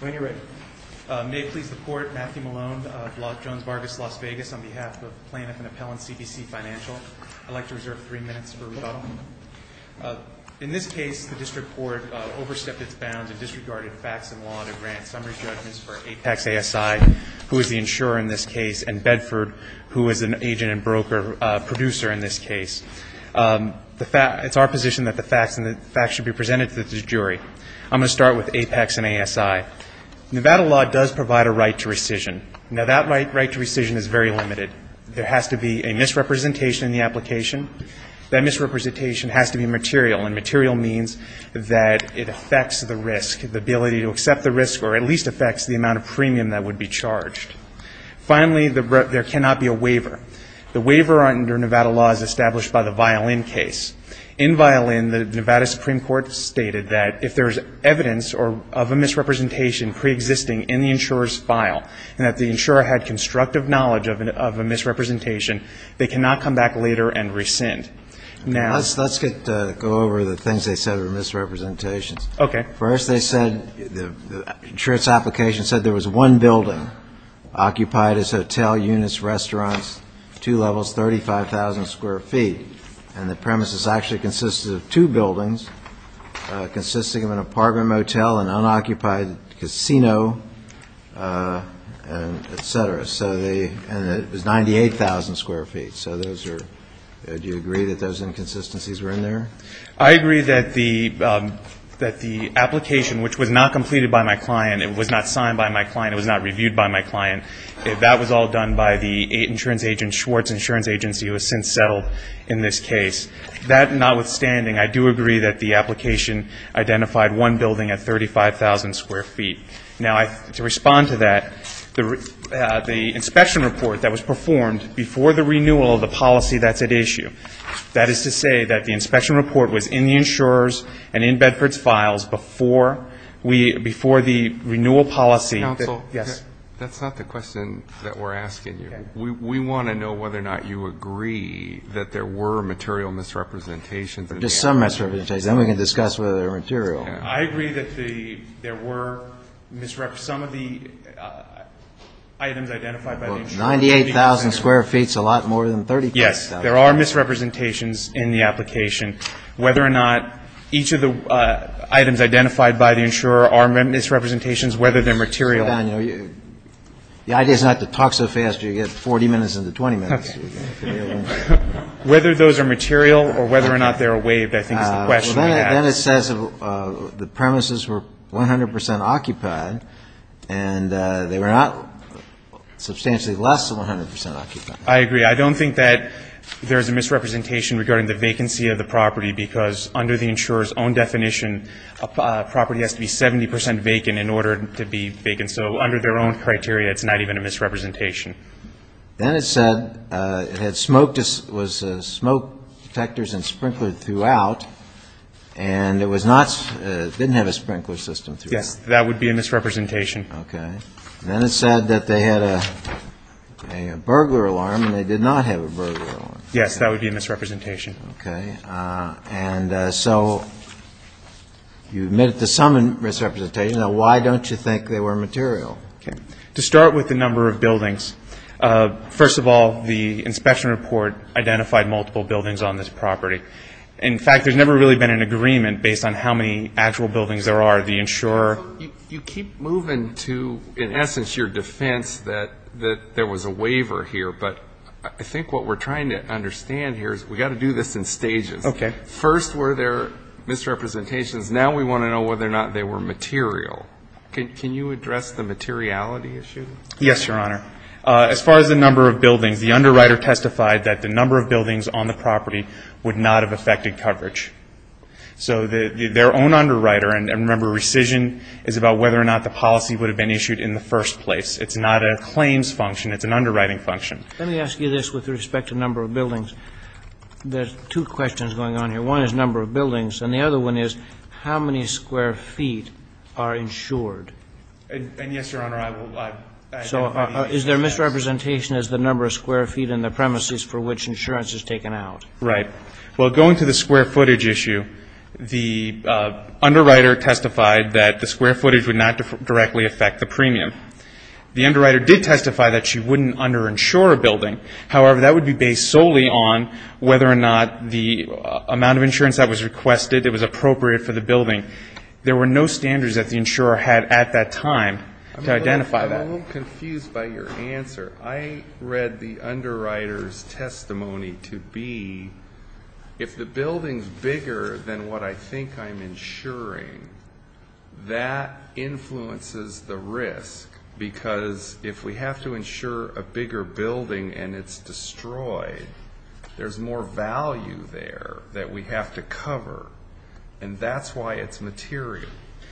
When you're ready. May it please the Court, Matthew Malone, Jones-Vargas, Las Vegas, on behalf of the plaintiff and appellant, CBC Financial. I'd like to reserve three minutes for rebuttal. In this case, the district court overstepped its bounds and disregarded facts and law to grant summary judgments for Apex ASI, who is the insurer in this case, and it's our position that the facts should be presented to the jury. I'm going to start with Apex and ASI. Nevada law does provide a right to rescission. Now that right to rescission is very limited. There has to be a misrepresentation in the application. That misrepresentation has to be material, and material means that it affects the risk, the ability to accept the risk, or at least affects the amount of premium that would be charged. Finally, there cannot be a waiver. The waiver under Nevada law is established by the Violin case. In Violin, the Nevada Supreme Court stated that if there's evidence of a misrepresentation preexisting in the insurer's file, and that the insurer had constructive knowledge of a misrepresentation, they cannot come back later and rescind. Let's go over the things they said were misrepresentations. First, they said, the insurer's application said there was one building occupied as a hotel, units, restaurants, two levels, 35,000 square feet, and the premises actually consisted of two buildings consisting of an apartment motel, an unoccupied casino, et cetera. And it was 98,000 square feet. Do you agree that those inconsistencies were in there? I agree that the application, which was not completed by my client, it was not signed by my client, it was not reviewed by my client, that was all done by the insurance agent, Schwartz Insurance Agency, who has since settled in this case. That notwithstanding, I do agree that the application identified one building at 35,000 square feet. Now, to respond to that, the inspection report that was performed before the renewal of the application, the inspection report was in the insurer's and in Bedford's files before the renewal policy. Counsel, that's not the question that we're asking you. We want to know whether or not you agree that there were material misrepresentations in the application. Just some misrepresentations. Then we can discuss whether they're material. I agree that there were some of the items identified by the insurer. 98,000 square feet is a lot more than 35,000. Yes. There are misrepresentations in the application. Whether or not each of the items identified by the insurer are misrepresentations, whether they're material. The idea is not to talk so fast, you get 40 minutes into 20 minutes. Whether those are material or whether or not they're waived, I think is the question we ask. Then it says the premises were 100 percent occupied, and they were not substantially less than 100 percent occupied. I agree. I don't think that there's a misrepresentation regarding the vacancy of the property, because under the insurer's own definition, a property has to be 70 percent vacant in order to be vacant. So under their own criteria, it's not even a misrepresentation. Then it said it had smoke detectors and sprinklers throughout, and it didn't have a sprinkler system throughout. Yes. That would be a misrepresentation. Okay. Then it said that they had a burglar alarm, and they did not have a burglar alarm. Yes. That would be a misrepresentation. Okay. And so you admitted to some misrepresentation. Now, why don't you think they were material? To start with the number of buildings, first of all, the inspection report identified multiple buildings on this property. In fact, there's never really been an agreement based on how many actual buildings there are. The insurer You keep moving to, in essence, your defense that there was a waiver here, but I think what we're trying to understand here is we've got to do this in stages. Okay. First, were there misrepresentations? Now we want to know whether or not they were material. Can you address the materiality issue? Yes, Your Honor. As far as the number of buildings, the underwriter testified that the number of buildings on the property would not have affected coverage. So their own underwriter And remember, rescission is about whether or not the policy would have been issued in the first place. It's not a claims function. It's an underwriting function. Let me ask you this with respect to number of buildings. There's two questions going on here. One is number of buildings, and the other one is how many square feet are insured? And yes, Your Honor, I will add that maybe Is there misrepresentation as the number of square feet in the premises for which insurance is taken out? Right. Well, going to the square footage issue, the underwriter testified that the square footage would not directly affect the premium. The underwriter did testify that she wouldn't underinsure a building. However, that would be based solely on whether or not the amount of insurance that was requested, it was appropriate for the building. There were no standards that the insurer had at that time to identify that. I'm a little confused by your answer. I read the underwriter's testimony to be if the building's bigger than what I think I'm insuring, that influences the risk. Because if we have to insure a bigger building and it's destroyed, there's more value there that we have to cover. And that's why it's material.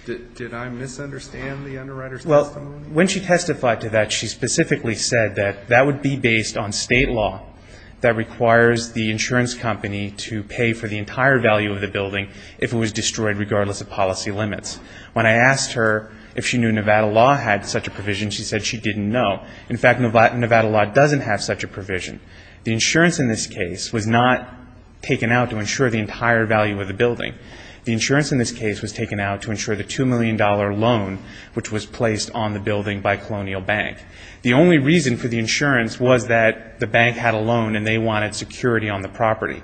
Did I misunderstand the underwriter's testimony? When she testified to that, she specifically said that that would be based on state law that requires the insurance company to pay for the entire value of the building if it was destroyed regardless of policy limits. When I asked her if she knew Nevada law had such a provision, she said she didn't know. In fact, Nevada law doesn't have such a provision. The insurance in this case was not taken out to insure the entire value of the building. The insurance in this case was taken out to insure the $2 million loan which was placed on the building by Colonial Bank. The only reason for the insurance was that the bank had a loan and they wanted security on the property.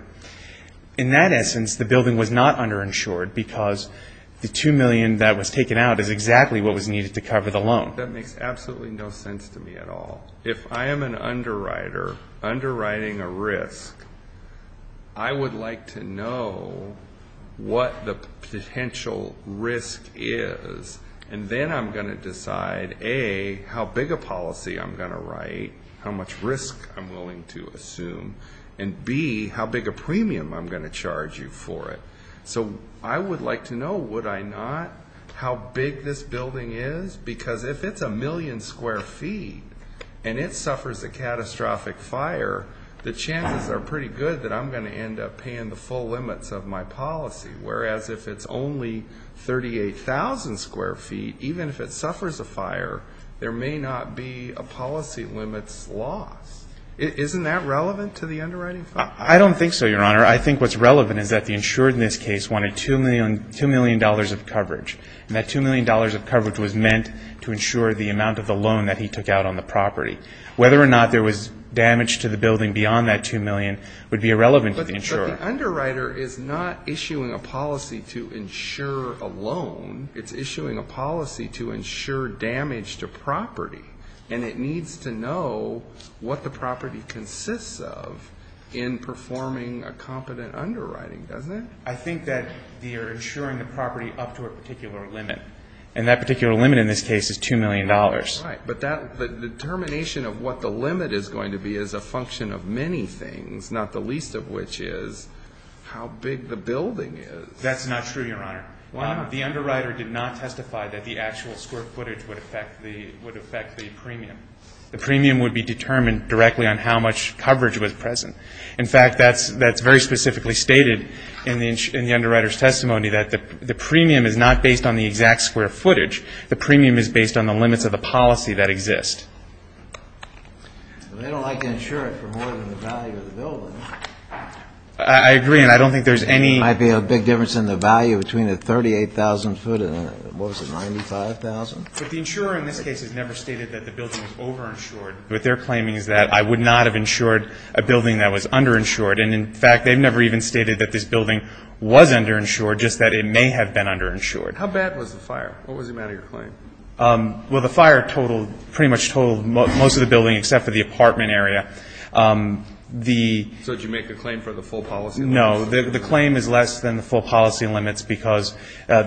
In that essence, the building was not underinsured because the $2 million that was taken out is exactly what was needed to cover the loan. That makes absolutely no sense to me at all. If I am an underwriter, underwriting a risk, I would like to know what the potential risk is and then I'm going to decide, A, how big a policy I'm going to write, how much risk I'm willing to assume, and B, how big a premium I'm going to charge you for it. I would like to know, would I not, how big this building is because if it's a million square feet and it suffers a catastrophic fire, the chances are pretty good that I'm going to end up paying the full limits of my policy, whereas if it's only 38,000 square feet, even if it suffers a fire, there may not be a policy limits loss. Isn't that relevant to the underwriting? I don't think so, Your Honor. I think what's relevant is that the insured in this case wanted $2 million of coverage and that $2 million of coverage was meant to insure the amount of the loan that he took out on the property. Whether or not there was damage to the building beyond that $2 million would be irrelevant to the insurer. But the underwriter is not issuing a policy to insure a loan. It's issuing a policy to insure damage to property and it needs to know what the property consists of in performing a competent underwriting, doesn't it? I think that they are insuring the property up to a particular limit. And that particular limit in this case is $2 million. Right. But the determination of what the limit is going to be is a function of many things, not the least of which is how big the building is. That's not true, Your Honor. The underwriter did not testify that the actual square footage would affect the premium. The premium would be determined directly on how much coverage was present. In fact, that's very specifically stated in the underwriter's testimony that the premium is not based on the exact square footage. The premium is based on the limits of the policy that exist. They don't like to insure it for more than the value of the building. I agree and I don't think there's any... There might be a big difference in the value between a 38,000 foot and what was it, 95,000? But the insurer in this case has never stated that the building was over-insured. What they're claiming is that I would not have insured a building that was under-insured. And in fact, they've never even stated that this building was under-insured, just that it may have been under-insured. How bad was the fire? What was the amount of your claim? Well, the fire pretty much totaled most of the building except for the apartment area. So did you make the claim for the full policy limits? No. The claim is less than the full policy limits because our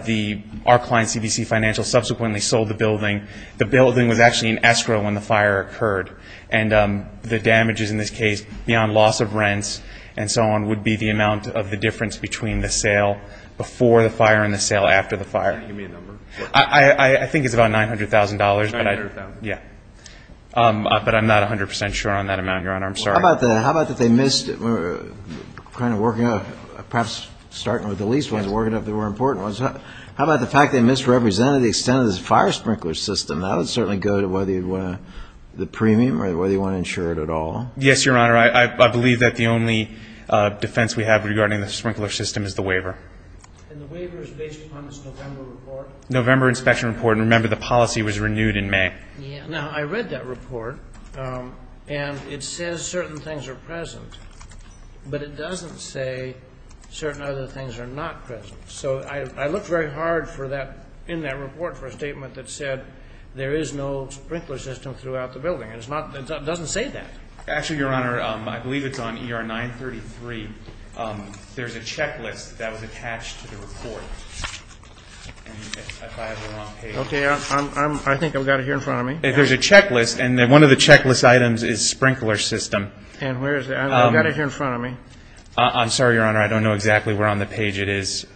client, CBC Financial, subsequently sold the building. The building was actually in escrow when the fire occurred. And the damages in this case, beyond loss of rents and so on, would be the amount of the difference between the sale before the fire and the sale after the fire. Can you give me a number? I think it's about $900,000. $900,000? Yeah. But I'm not 100% sure on that amount, Your Honor. I'm sorry. How about that they missed, perhaps starting with the least ones, working up the more important ones. How about the fact they misrepresented the extent of the fire sprinkler system? That would certainly go to whether you'd want the premium or whether you want to insure it at all. Yes, Your Honor. I believe that the only defense we have regarding the sprinkler system is the waiver. And the waiver is based upon this November report? November inspection report. And remember, the policy was renewed in May. Now, I read that report. And it says certain things are present. But it doesn't say certain other things are not present. So I looked very hard in that report for a statement that said there is no sprinkler system throughout the building. And it doesn't say that. Actually, Your Honor, I believe it's on ER 933. There's a checklist that was attached to the report. Okay. I think I've got it here in front of me. There's a checklist. And one of the checklist items is sprinkler system. And where is it? I've got it here in front of me. I'm sorry, Your Honor. I don't know exactly where on the page it is.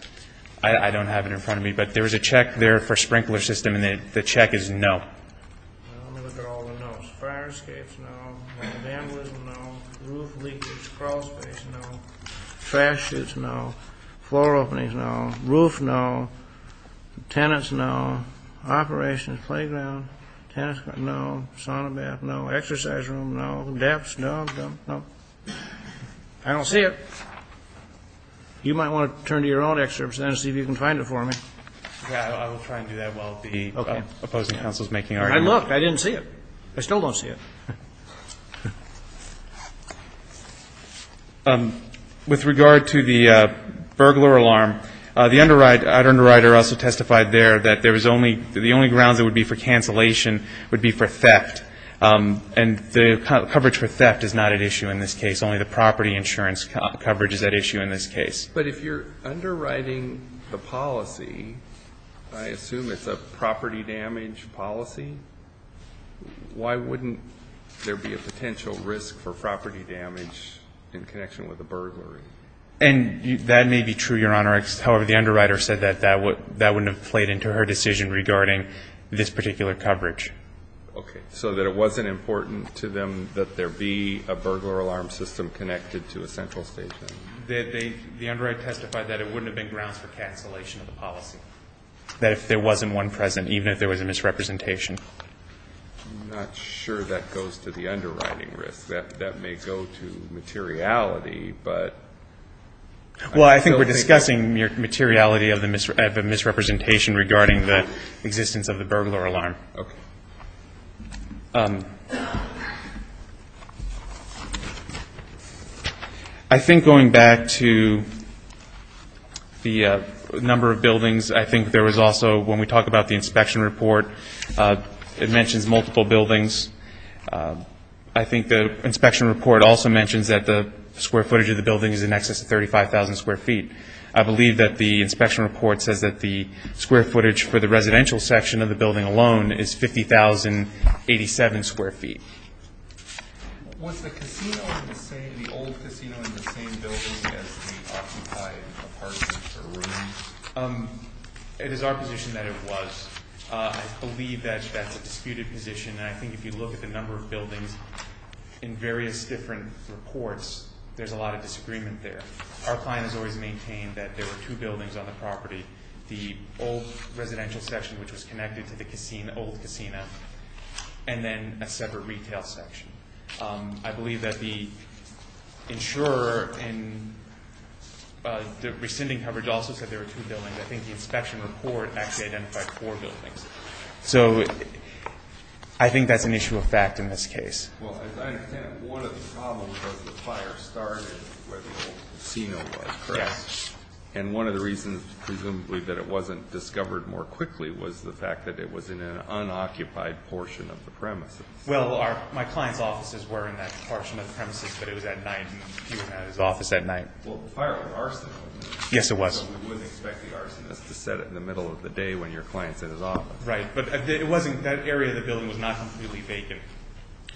I don't have it in front of me. But there is a check there for sprinkler system. And the check is no. Let me look at all the no's. Fire escapes, no. Vandalism, no. Roof leakage. Crawl space, no. Trash chutes, no. Floor openings, no. Roof, no. Tenants, no. Operations. Playground. Tennis court, no. Sauna bath, no. Exercise room, no. Depths, no. I don't see it. You might want to turn to your own excerpts and see if you can find it for me. I will try and do that while the opposing counsel is making arguments. I looked. I didn't see it. I still don't see it. With regard to the burglar alarm, the underwriter also testified there that there was only, the only grounds it would be for cancellation would be for theft. And the coverage for theft is not at issue in this case. Only the property insurance coverage is at issue in this case. But if you're underwriting the policy, I assume it's a property damage policy, why wouldn't there be a potential risk for property damage in connection with a burglary? And that may be true, Your Honor. However, the underwriter said that that wouldn't have played into her decision regarding this particular coverage. Okay. So that it wasn't important to them that there be a burglar alarm system connected to a central station. The underwriter testified that it wouldn't have been grounds for cancellation of the policy. That if there wasn't one present, even if there was a misrepresentation, I'm not sure that goes to the underwriting risk. That may go to materiality, but. Well, I think we're discussing the materiality of the misrepresentation regarding the existence of the burglar alarm. Okay. I think going back to the number of buildings, I think there was also, when we talk about the inspection report, it mentions multiple buildings. I think the inspection report also mentions that the square footage of the building is in excess of 35,000 square feet. I believe that the inspection report says that the square footage for the residential section of the building alone is 50,087 square feet. Was the casino in the same, the old casino in the same building as the occupied apartment or room? It is our position that it was. I believe that that's a disputed position, and I think if you look at the number of buildings in various different reports, there's a lot of disagreement there. Our client has always maintained that there were two buildings on the property, the old residential section, which was connected to the old casino, and then a separate retail section. I believe that the insurer in the rescinding coverage also said there were two buildings. I think the inspection report actually identified four buildings. So I think that's an issue of fact in this case. Well, as I understand it, one of the problems was the fire started where the old casino was, correct? Yes. And one of the reasons, presumably, that it wasn't discovered more quickly was the fact that it was in an unoccupied portion of the premises. Well, my client's offices were in that portion of the premises, but it was at night, and he wasn't at his office at night. Well, the fire was an arsenal. Yes, it was. So we wouldn't expect the arsonist to set it in the middle of the day when your client's in his office. Right. But it wasn't, that area of the building was not completely vacant.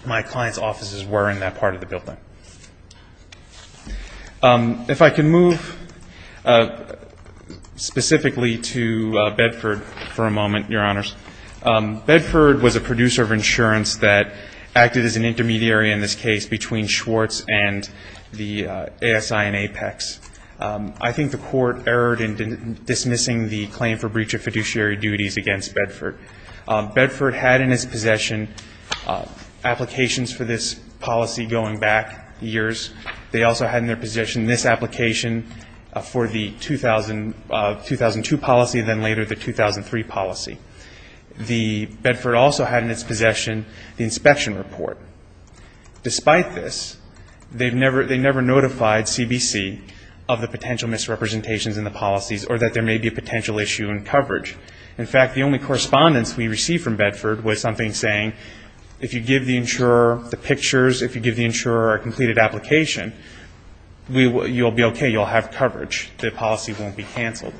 My client's offices were in that part of the building. If I can move specifically to Bedford for a moment, Your Honors. Bedford was a producer of insurance that acted as an intermediary in this case between Schwartz and the ASI and Apex. I think the court erred in dismissing the claim for breach of fiduciary duties against Bedford. Bedford had in his possession applications for this policy going back years. They also had in their possession this application for the 2002 policy and then later the 2003 policy. Bedford also had in its possession the inspection report. Despite this, they never notified CBC of the potential misrepresentations in the policies or that there may be a potential issue in coverage. In fact, the only correspondence we received from Bedford was something saying, if you give the insurer the pictures, if you give the insurer a completed application, you'll be okay. You'll have coverage. The policy won't be canceled.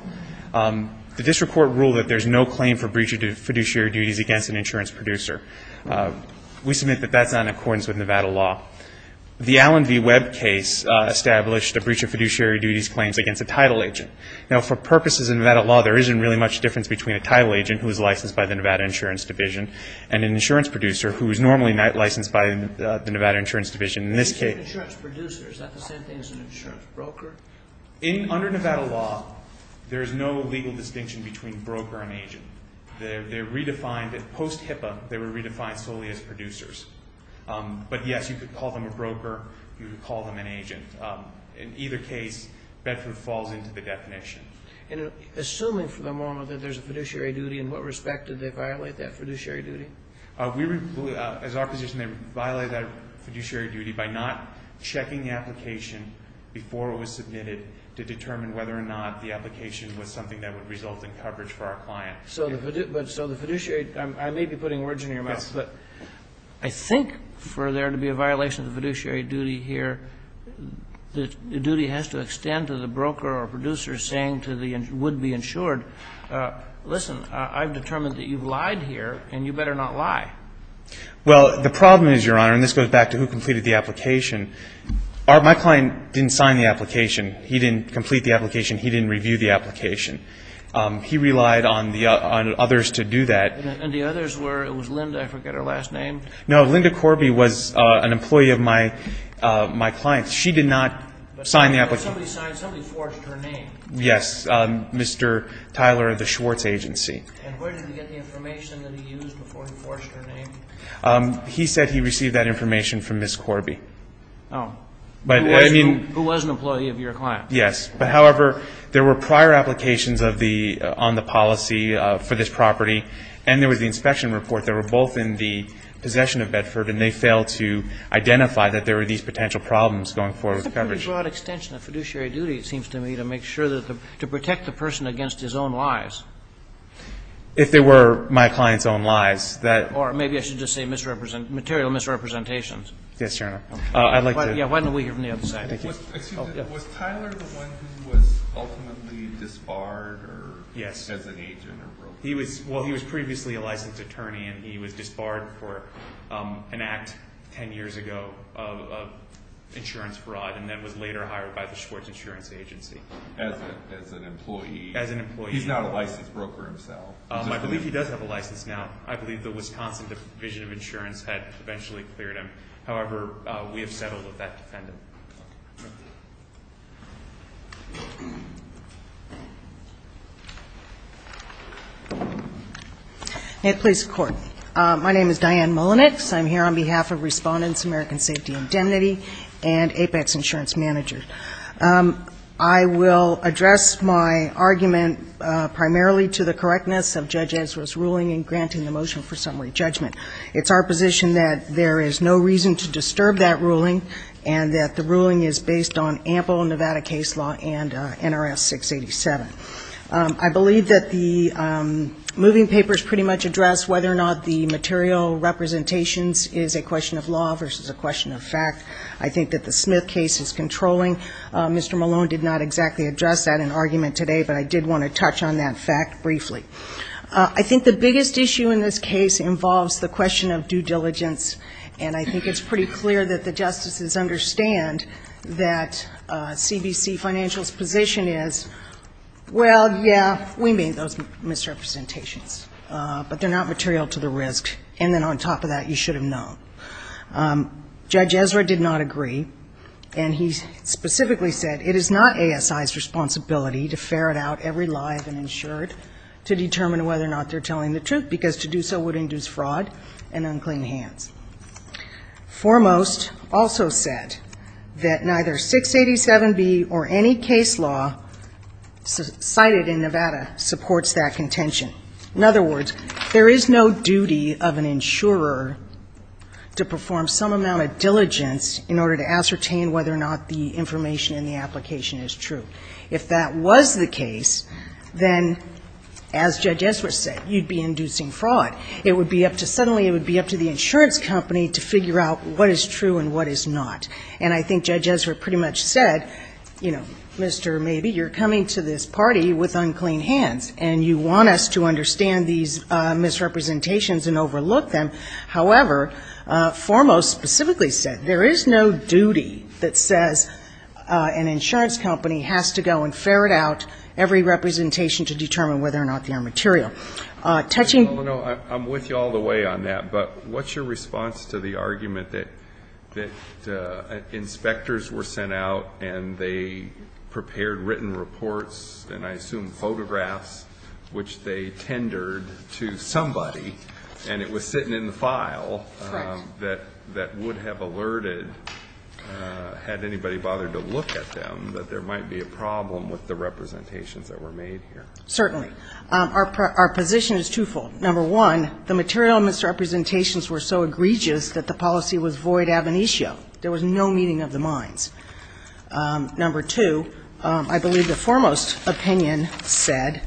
The district court ruled that there's no claim for breach of fiduciary duties against an insurance producer. We submit that that's not in accordance with Nevada law. The Allen v. Webb case established a breach of fiduciary duties claims against a title agent. Now, for purposes of Nevada law, there isn't really much difference between a title agent who is licensed by the Nevada Insurance Division and an insurance producer who is normally licensed by the Nevada Insurance Division. In this case the insurance producer, is that the same thing as an insurance broker? Under Nevada law, there is no legal distinction between broker and agent. They're redefined. Post HIPAA, they were redefined solely as producers. But yes, you could call them a broker. You could call them an agent. In either case, Bedford falls into the definition. Assuming for the moment that there's a fiduciary duty, in what respect did they violate that fiduciary duty? As our position, they violated that fiduciary duty by not checking the application before it was submitted to determine whether or not the application was something that would result in coverage for our client. So the fiduciary, I may be putting words in your mouth, but I think for there to be a violation of the fiduciary duty here, the duty has to extend to the broker or producer saying to the would-be insured, listen, I've determined that you've lied here and you better not lie. Well, the problem is, Your Honor, and this goes back to who completed the application, my client didn't sign the application. He didn't complete the application. He didn't review the application. He relied on others to do that. And the others were, it was Linda, I forget her last name. No, Linda Corby was an employee of my client's. She did not sign the application. Somebody signed, somebody forged her name. Yes, Mr. Tyler of the Schwartz Agency. And where did he get the information that he used before he forged her name? He said he received that information from Ms. Corby. Oh. But, I mean. Who was an employee of your client. Yes. But, however, there were prior applications of the, on the policy for this property and there was the inspection report that were both in the possession of Bedford and they failed to identify that there were these potential problems going forward with coverage. That's a pretty broad extension of fiduciary duty, it seems to me, to make sure that the, to protect the person against his own lies. If they were my client's own lies, that. Or maybe I should just say misrepresent, material misrepresentations. Yes, Your Honor. I'd like to. Yeah, why don't we hear from the other side. Thank you. Excuse me. Was Tyler the one who was ultimately disbarred or. Yes. As an agent or broker? He was, well he was previously a licensed attorney and he was disbarred for an act 10 years ago of insurance fraud and then was later hired by the Schwartz Insurance Agency. As an employee. As an employee. He's not a licensed broker himself. I believe he does have a license now. I believe the Wisconsin Division of Insurance had eventually cleared him. However, we have settled with that defendant. May it please the Court. My name is Diane Mullenix. I'm here on behalf of Respondents' American Safety Indemnity and Apex Insurance Manager. I will address my argument primarily to the correctness of Judge Ezra's ruling in granting the motion for summary judgment. It's our position that there is no reason to disturb that ruling and that the ruling is based on ample Nevada case law and NRS 687. I believe that the moving papers pretty much address whether or not the material representations is a question of law versus a question of fact. I think that the Smith case is controlling. Mr. Malone did not exactly address that in argument today but I did want to touch on that fact briefly. I think the biggest issue in this case involves the question of due diligence and I think it's pretty clear that the justices understand that CBC Financial's position is, well, yeah, we made those misrepresentations but they're not material to the risk and then on top of that you should have known. Judge Ezra did not agree and he specifically said it is not ASI's responsibility to ferret out every lie of an insured to determine whether or not they're telling the truth because to do so would induce fraud and unclean hands. Foremost also said that neither 687B or any case law cited in Nevada supports that contention. In other words, there is no duty of an insurer to perform some amount of diligence in order to ascertain whether or not the information in the application is true. If that was the case, then as Judge Ezra said, you'd be inducing fraud. It would be up to suddenly it would be up to the insurance company to figure out what is true and what is not and I think Judge Ezra pretty much said, you know, Mr. Mabee, you're coming to this party with unclean hands and you want us to understand these misrepresentations and overlook them. However, Foremost specifically said there is no duty that says an insurance company has to go and ferret out every representation to determine whether or not they are material. Touching... I'm with you all the way on that, but what's your response to the argument that inspectors were sent out and they prepared written reports and I assume photographs which they tendered to somebody and it was sitting in the file that would have alerted had anybody bothered to look at them that there might be a problem with the representations that were made here. Certainly. Our position is twofold. Number one, the material misrepresentations were so egregious that the policy was void ab initio. There was no meeting of the minds. Number two, I believe the Foremost opinion said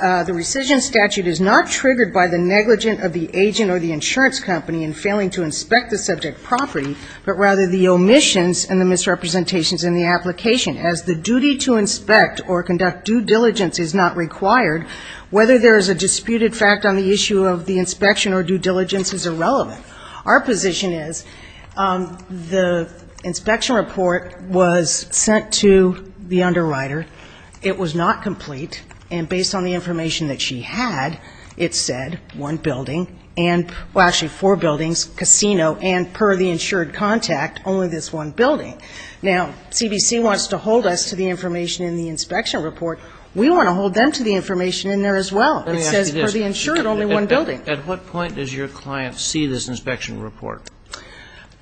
the rescission statute is not triggered by the negligence of the agent or the insurance company in failing to inspect the subject property, but rather the omissions and the misrepresentations in the application. As the duty to inspect or conduct due diligence is not required, whether there is a disputed fact on the issue of the inspection or due diligence is irrelevant. Our position is the inspection report was sent to the underwriter. It was not complete and based on the information that she had, it said one building and, well, actually four buildings, casino and per the insured contact, only this one building. Now, CBC wants to hold us to the information in the inspection report. We want to hold them to the information in there as well. It says per the insured, only one building. At what point does your client see this inspection report?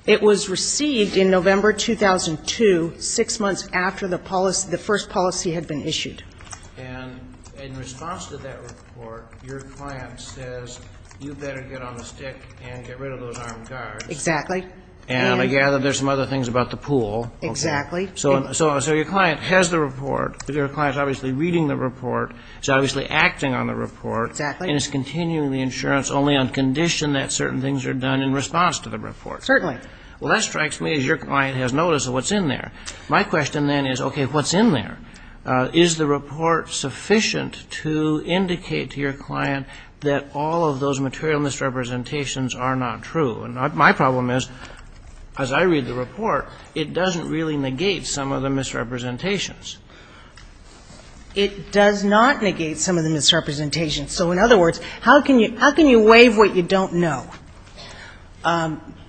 It was received in November 2002, six months after the policy, the first policy had been issued. And in response to that report, your client says you better get on the stick and get rid of those armed guards. Exactly. And I gather there's some other things about the pool. Exactly. So your client has the report. Your client's obviously reading the report. It's obviously acting on the report. Exactly. And it's continuing the insurance only on condition that certain things are done in response to the report. Certainly. Well, that strikes me as your client has noticed what's in there. My question then is, okay, what's in there? Is the report sufficient to indicate to your client that all of those material misrepresentations are not true? And my problem is, as I read the report, it doesn't really negate some of the misrepresentations. It does not negate some of the misrepresentations. So in other words, how can you waive what you don't know?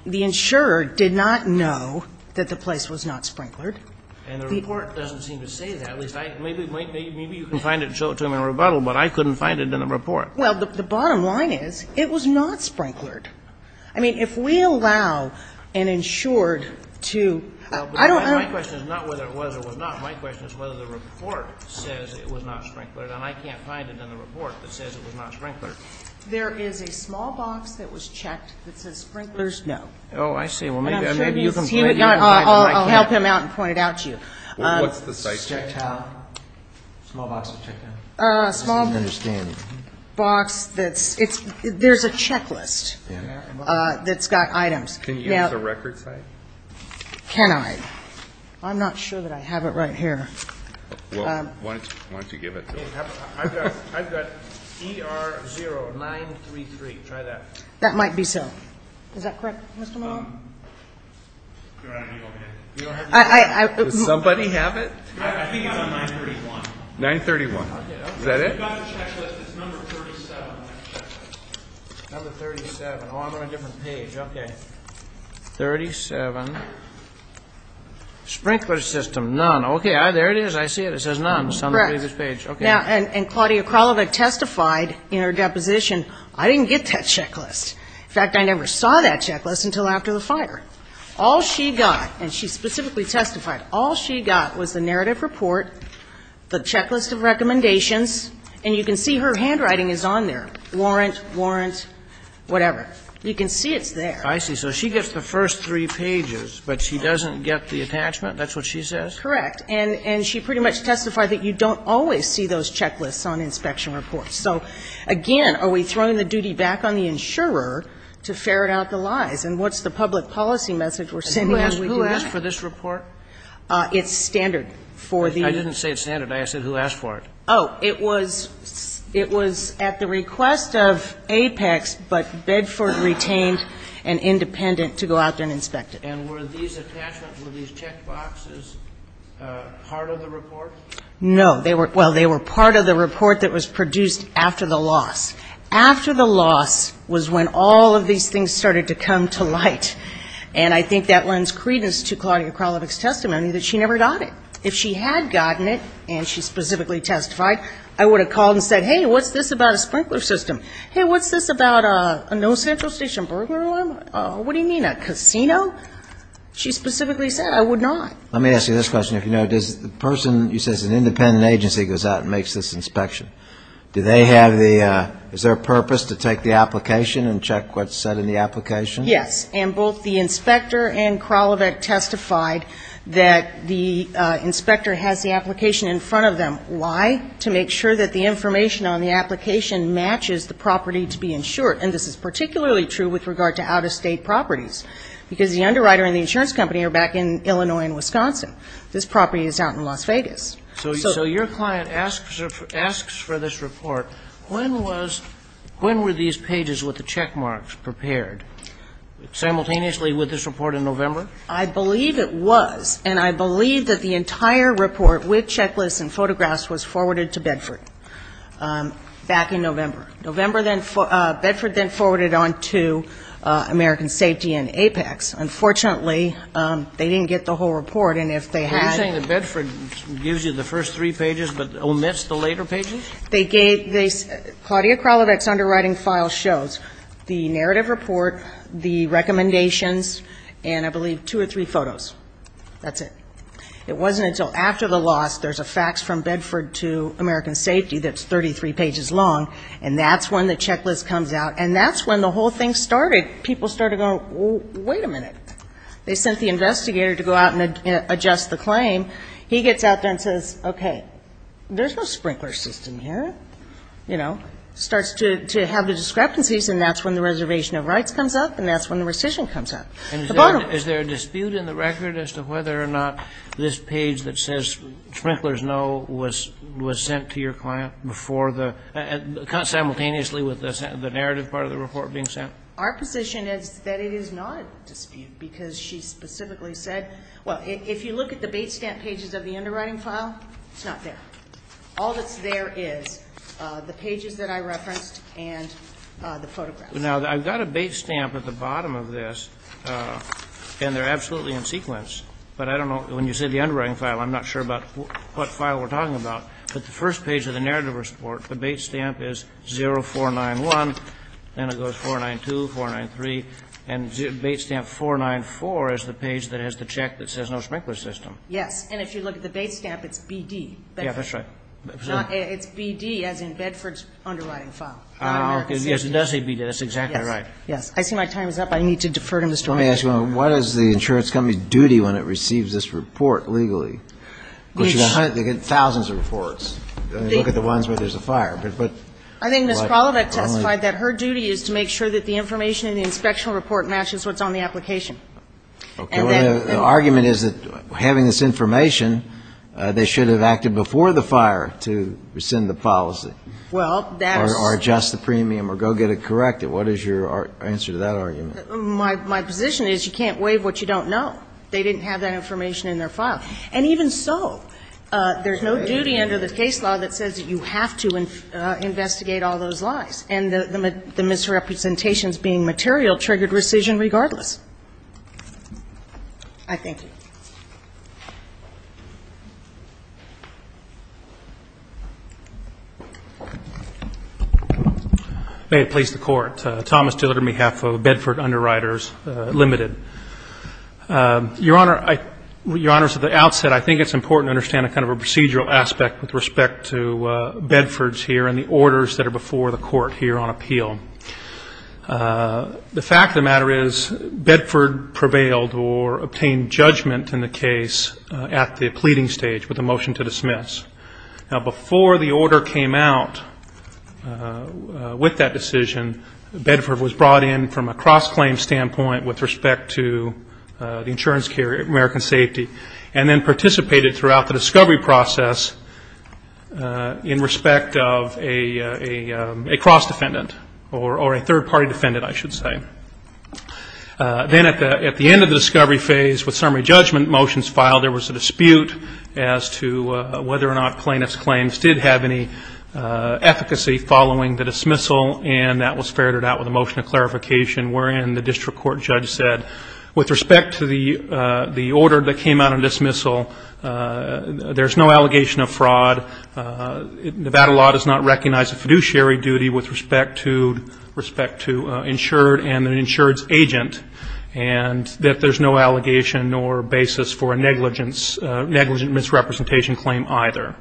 The insurer did not know that the place was not sprinklered. And the report doesn't seem to say that. Maybe you can find it and show it to him in rebuttal, but I couldn't find it in the report. Well, the bottom line is, it was not sprinklered. I mean, if we allow an insured to... My question is not whether it was or was not. My question is whether the report says it was not sprinklered. And I can't find it in the report that says it was not sprinklered. There is a small box that was checked that says sprinklers, no. Oh, I see. Well, maybe you can... I'll help him out and point it out to you. What's the site checked out? A small box that's checked out? A small box that's... There's a checklist that's got items. Can you use a record site? Can I? I'm not sure that I have it right here. Well, why don't you give it to him? I've got E-R-0-9-3-3. Try that. That might be so. Is that correct, Mr. Mahler? Does somebody have it? I think I'm on 931. 931. Is that it? We've got the checklist. It's number 37 on the checklist. Number 37. Oh, I'm on a different page. Okay. 37. Sprinkler system, none. Okay, there it is. I see it. It says none. Correct. And Claudia Kralovec testified in her deposition, I didn't get that checklist. In fact, I never saw that checklist until after the fire. All she got, and she specifically testified, all she got was the narrative report, the checklist of recommendations, and you can see her handwriting is on there. Warrant, warrant, whatever. You can see it's there. I see. So she gets the first three pages, but she doesn't get the attachment? That's what she says? Correct. And she pretty much testified that you don't always see those checklists on inspection reports. So, again, are we throwing the duty back on the insurer to ferret out the lies? And what's the public policy message we're sending out? Who asked for this report? It's standard for the ---- I didn't say it's standard. I said who asked for it. Oh. It was at the request of APEX, but Bedford retained and independent to go out there and inspect it. And were these attachments, were these checkboxes part of the report? No. Well, they were part of the report that was produced after the loss. After the loss was when all of these things started to come to light, and I think that lends credence to Claudia Kralovic's testimony that she never got it. If she had gotten it, and she specifically testified, I would have called and said, hey, what's this about a sprinkler system? Hey, what's this about a no central station burglar alarm? What do you mean, a casino? She specifically said, I would not. Let me ask you this question, if you know. Does the person, you said it's an independent agency, goes out and makes this inspection. Do they have the, is there a purpose to take the application and check what's said in the application? Yes. And both the inspector and Kralovic testified that the inspector has the application in front of them. Why? To make sure that the information on the application matches the property to be insured. And this is particularly true with regard to out-of-state properties. Because the underwriter and the insurance company are back in Illinois and Wisconsin. This property is out in Las Vegas. So your client asks for this report. When were these pages with the check marks prepared? Simultaneously with this report in November? I believe it was. And I believe that the entire report with checklists and photographs was forwarded to Bedford back in November. November, then, Bedford then forwarded on to American Safety and Apex. Unfortunately, they didn't get the whole report. And if they had to. Are you saying that Bedford gives you the first three pages, but omits the later pages? They gave, they, Claudia Kralovic's underwriting file shows the narrative report, the recommendations, and I believe two or three photos. That's it. It wasn't until after the loss, there's a fax from Bedford to American Safety that's 33 pages long, and that's when the checklist comes out. And that's when the whole thing started. People started going, wait a minute. They sent the investigator to go out and adjust the claim. He gets out there and says, okay, there's no sprinkler system here. You know, starts to have the discrepancies, and that's when the reservation of rights comes up, and that's when the rescission comes up. Is there a dispute in the record as to whether or not this page that says sprinklers no was sent to your client before the, simultaneously with the narrative part of the report being sent? Our position is that it is not a dispute because she specifically said, well, if you look at the base stamp pages of the underwriting file, it's not there. All that's there is the pages that I referenced and the photographs. Now, I've got a base stamp at the bottom of this, and they're absolutely in sequence, but I don't know. When you say the underwriting file, I'm not sure about what file we're talking about, but the first page of the narrative report, the base stamp is 0491, then it goes 492, 493, and base stamp 494 is the page that has the check that says no sprinkler system. Yes. And if you look at the base stamp, it's BD. Yeah, that's right. It's BD, as in Bedford's underwriting file. Yes, it does say BD. That's exactly right. Yes. I see my time is up. I need to defer to Mr. White. Let me ask you a moment. What is the insurance company's duty when it receives this report legally? They get thousands of reports. They look at the ones where there's a fire. I think Ms. Kralovec testified that her duty is to make sure that the information in the inspectional report matches what's on the application. Okay. The argument is that having this information, they should have acted before the fire to rescind the policy or adjust the premium or go get it corrected. What is your answer to that argument? My position is you can't waive what you don't know. They didn't have that information in their file. And even so, there's no duty under the case law that says that you have to investigate all those lies. And the misrepresentations being material triggered rescission regardless. I thank you. May it please the Court. Thomas Dillard on behalf of Bedford Underwriters Limited. Your Honor, at the outset, I think it's important to understand kind of a procedural aspect with respect to Bedford's here and the orders that are before the court here on appeal. The fact of the matter is Bedford prevailed or obtained judgment in the case at the pleading stage with a motion to dismiss. Now, before the order came out with that decision, Bedford was brought in from a cross-claim standpoint with respect to the insurance carrier, American Safety, and then participated throughout the discovery process in respect of a cross- defendant or a third-party defendant, I should say. Then at the end of the discovery phase with summary judgment motions filed, there or not plaintiff's claims did have any efficacy following the dismissal, and that was ferreted out with a motion of clarification wherein the district court judge said, with respect to the order that came out on dismissal, there's no allegation of fraud. Nevada law does not recognize a fiduciary duty with respect to insured and an insured's agent, and that there's no allegation nor basis for a negligent misrepresentation claim either.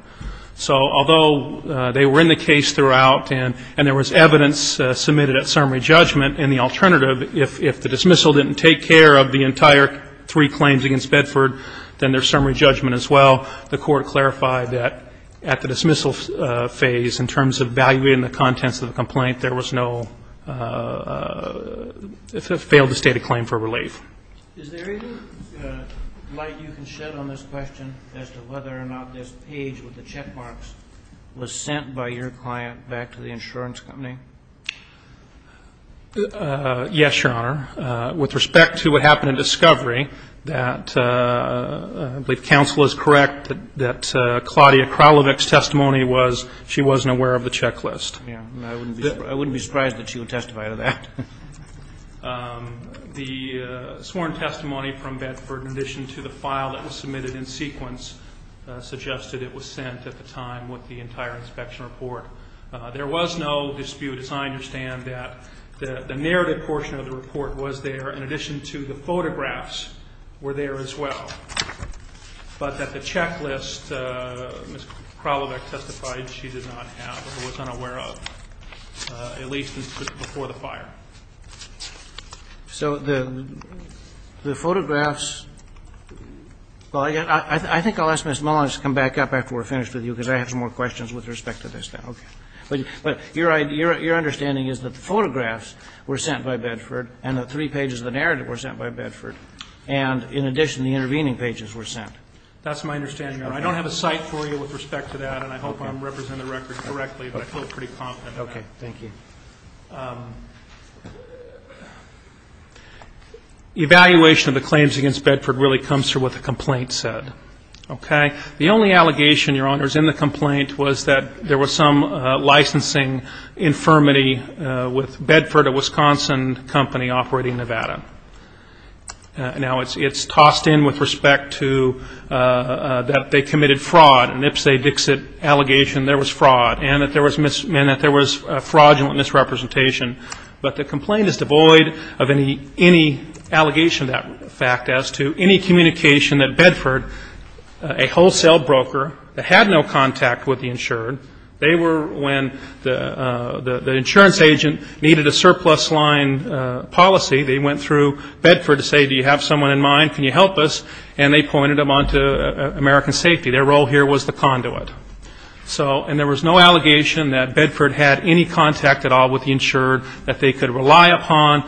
So although they were in the case throughout and there was evidence submitted at summary judgment, in the alternative, if the dismissal didn't take care of the entire three claims against Bedford, then there's summary judgment as well. The court clarified that at the dismissal phase, in terms of valuating the contents of the complaint, there was no failed state of claim for relief. Is there any light you can shed on this question as to whether or not this page with the checkmarks was sent by your client back to the insurance company? Yes, Your Honor. With respect to what happened in discovery, I believe counsel is correct that Claudia Kralovec's testimony was she wasn't aware of the checklist. I wouldn't be surprised that she would testify to that. The sworn testimony from Bedford, in addition to the file that was submitted in sequence, suggested it was sent at the time with the entire inspection report. There was no dispute, as I understand, that the narrative portion of the report was there in addition to the photographs were there as well, but that the checklist, Ms. Kralovec testified she did not have or was unaware of, at least before the fire. So the photographs, well, again, I think I'll ask Ms. Mullins to come back up after we're finished with you, because I have some more questions with respect to this now. Okay. But your understanding is that the photographs were sent by Bedford and the three pages of the narrative were sent by Bedford, and in addition, the intervening pages were sent. That's my understanding, Your Honor. I don't have a cite for you with respect to that, and I hope I'm representing the records correctly, but I feel pretty confident. Okay. Thank you. Evaluation of the claims against Bedford really comes through what the complaint said. Okay? The only allegation, Your Honor, is in the complaint was that there was some licensing infirmity with Bedford, a Wisconsin company operating in Nevada. Now, it's tossed in with respect to that they committed fraud, an Ipsi-Dixit allegation there was fraud, and that there was fraudulent misrepresentation. But the complaint is devoid of any allegation of that fact as to any communication that Bedford, a wholesale broker that had no contact with the insured, they were when the insurance agent needed a surplus line policy, they went through Bedford to say, do you have someone in mind? Can you help us? And they pointed them on to American Safety. Their role here was the conduit. So, and there was no allegation that Bedford had any contact at all with the insured that they could rely upon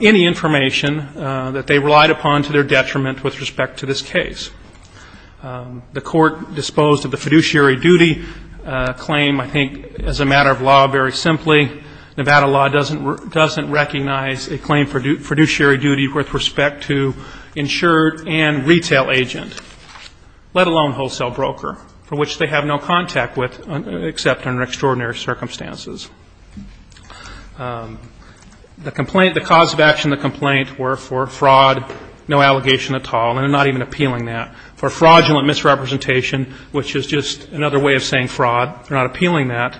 any information that they relied upon to their detriment with respect to this case. The court disposed of the fiduciary duty claim, I think, as a matter of law, very simply. Nevada law doesn't recognize a claim for fiduciary duty with respect to insured and retail agent, let alone wholesale broker, for which they have no contact with except under extraordinary circumstances. The cause of action of the complaint were for fraud, no allegation at all, and they're not even appealing that. For fraudulent misrepresentation, which is just another way of saying fraud, they're not appealing that.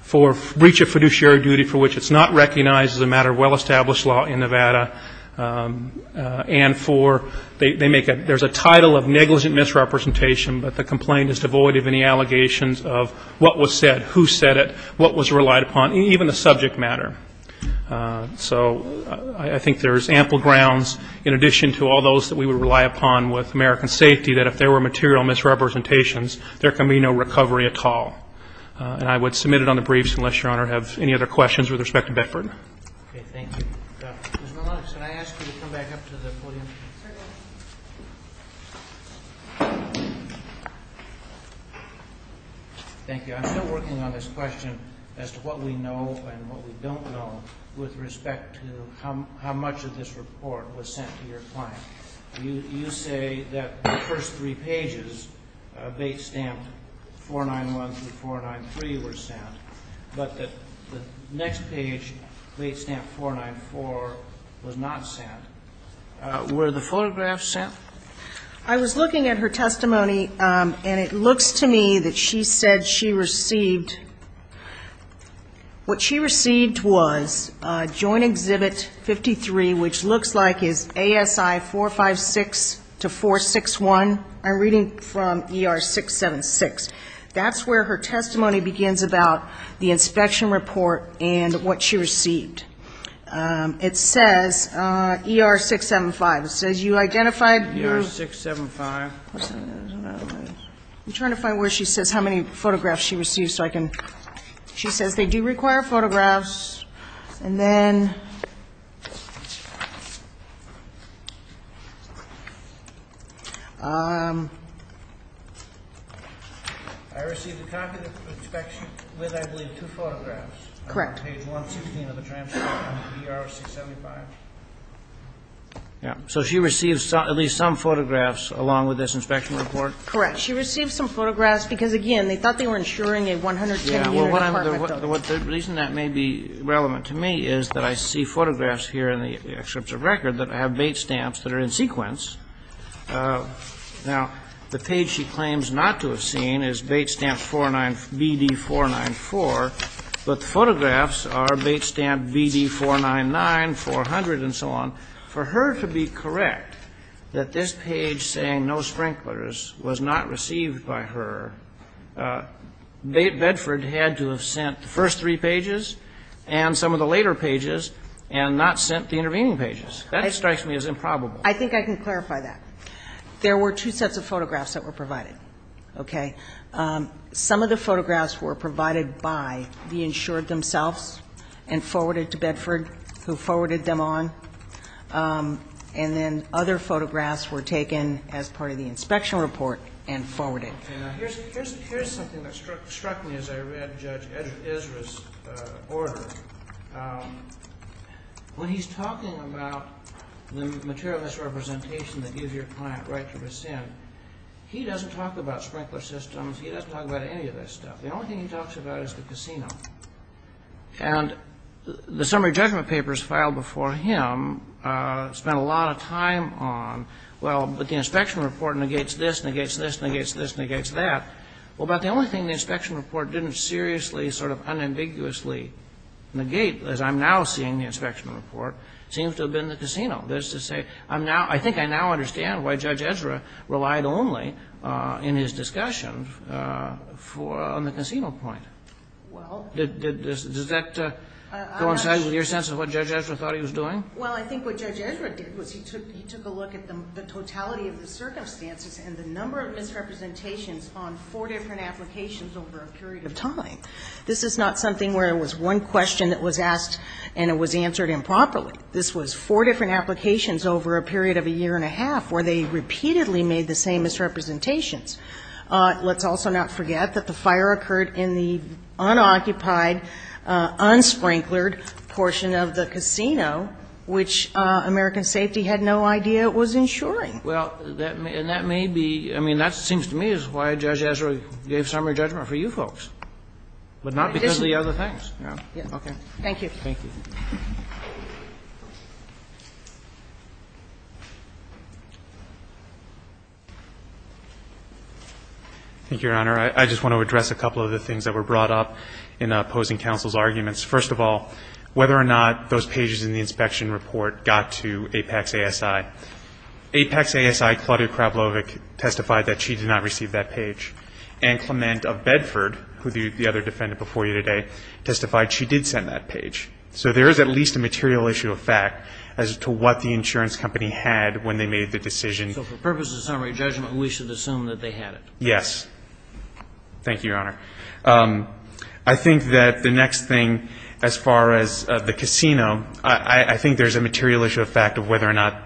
For breach of fiduciary duty for which it's not recognized as a matter of well-established law in Nevada, and for, they make a, there's a title of negligent misrepresentation, but the complaint is devoid of any allegations of what was said, who said it, what was relied upon, even the subject matter. So I think there's ample grounds in addition to all those that we would rely upon with American Safety that if there were material misrepresentations, there can be no recovery at all. And I would submit it on the briefs unless Your Honor have any other questions with respect to Beckford. Okay. Thank you. Ms. Maloney, can I ask you to come back up to the podium? Certainly. Thank you. I'm still working on this question as to what we know and what we don't know with respect to how much of this report was sent to your client. You say that the first three pages of 8th Stamp 491 through 493 were sent, but the next page, 8th Stamp 494, was not sent. Were the photographs sent? I was looking at her testimony, and it looks to me that she said she received, what she received was Joint Exhibit 53, which looks like is ASI 456 to 461. I'm reading from ER 676. That's where her testimony begins about the inspection report and what she received. It says ER 675. It says you identified. ER 675. I'm trying to find where she says how many photographs she received so I can. She says they do require photographs. I received a copy of the inspection with, I believe, two photographs. Correct. On page 116 of the transcript of ER 675. So she received at least some photographs along with this inspection report? Correct. She received some photographs because, again, they thought they were insuring a 110-meter department building. The reason that may be a little confusing, relevant to me is that I see photographs here in the excerpts of record that have bait stamps that are in sequence. Now, the page she claims not to have seen is bait stamp BD 494, but the photographs are bait stamp BD 499, 400, and so on. For her to be correct that this page saying no sprinklers was not received by her, Bedford had to have sent the first three pages and some of the later pages and not sent the intervening pages. That strikes me as improbable. I think I can clarify that. There were two sets of photographs that were provided. Some of the photographs were provided by the insured themselves and forwarded to Bedford, who forwarded them on, and then other photographs were taken as part of the inspection report and forwarded. Now, here's something that struck me as I read Judge Ezra's order. When he's talking about the material misrepresentation that gives your client right to rescind, he doesn't talk about sprinkler systems. He doesn't talk about any of this stuff. The only thing he talks about is the casino. And the summary judgment papers filed before him spent a lot of time on, well, but the inspection report negates this, negates this, negates this, negates that. Well, about the only thing the inspection report didn't seriously sort of unambiguously negate, as I'm now seeing the inspection report, seems to have been the casino. That is to say, I think I now understand why Judge Ezra relied only in his discussion on the casino point. Does that coincide with your sense of what Judge Ezra thought he was doing? Well, I think what Judge Ezra did was he took a look at the totality of the circumstances and the number of misrepresentations on four different applications over a period of time. This is not something where it was one question that was asked and it was answered improperly. This was four different applications over a period of a year and a half where they repeatedly made the same misrepresentations. Let's also not forget that the fire occurred in the unoccupied, unsprinklered portion of the casino, which American Safety had no idea it was insuring. Well, and that may be, I mean, that seems to me is why Judge Ezra gave summary judgment for you folks, but not because of the other things. Okay. Thank you. Thank you. Thank you, Your Honor. I just want to address a couple of the things that were brought up in opposing counsel's arguments. First of all, whether or not those pages in the inspection report got to Apex ASI. Apex ASI, Claudia Kravlovich, testified that she did not receive that page. And Clement of Bedford, who the other defendant before you today, testified she did send that page. So there is at least a material issue of fact as to what the insurance company had when they made the decision. So for purposes of summary judgment, we should assume that they had it. Yes. Thank you, Your Honor. I think that the next thing as far as the casino, I think there's a material issue of fact of whether or not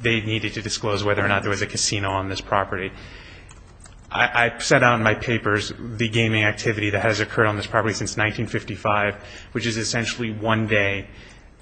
they needed to disclose whether or not there was a casino on this property. I set out in my papers the gaming activity that has occurred on this property since 1955, which is essentially one day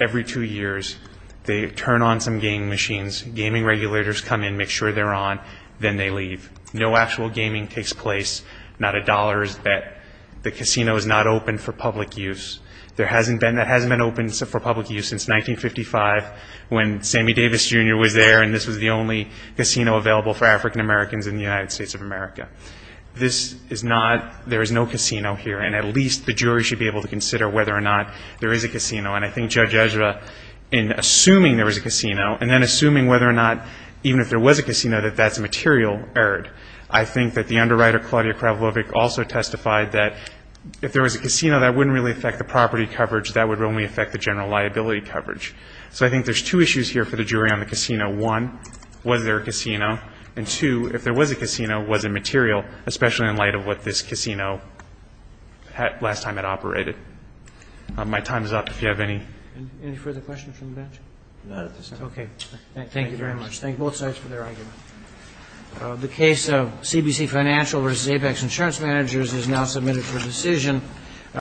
every two years they turn on some game machines, gaming regulators come in, make sure they're on, then they leave. No actual gaming takes place. Not a dollar is bet. The casino is not open for public use. There hasn't been, it hasn't been open for public use since 1955 when Sammy Davis, Jr. was there, and this was the only casino available for African Americans in the United States of America. This is not, there is no casino here, and at least the jury should be able to consider whether or not there is a casino. And I think Judge Ezra, in assuming there was a casino, and then assuming whether or not, even if there was a casino, that that's a material error, I think that the underwriter, Claudia Kravlovich, also testified that if there was a casino, that wouldn't really affect the property coverage. That would only affect the general liability coverage. So I think there's two issues here for the jury on the casino. One, was there a casino? And two, if there was a casino, was it material, especially in light of what this casino last time had operated? My time is up. If you have any. Any further questions from the bench? None at this time. Okay. Thank you very much. Thank you both sides for their argument. The case of CBC Financial versus Apex Insurance Managers is now submitted for decision.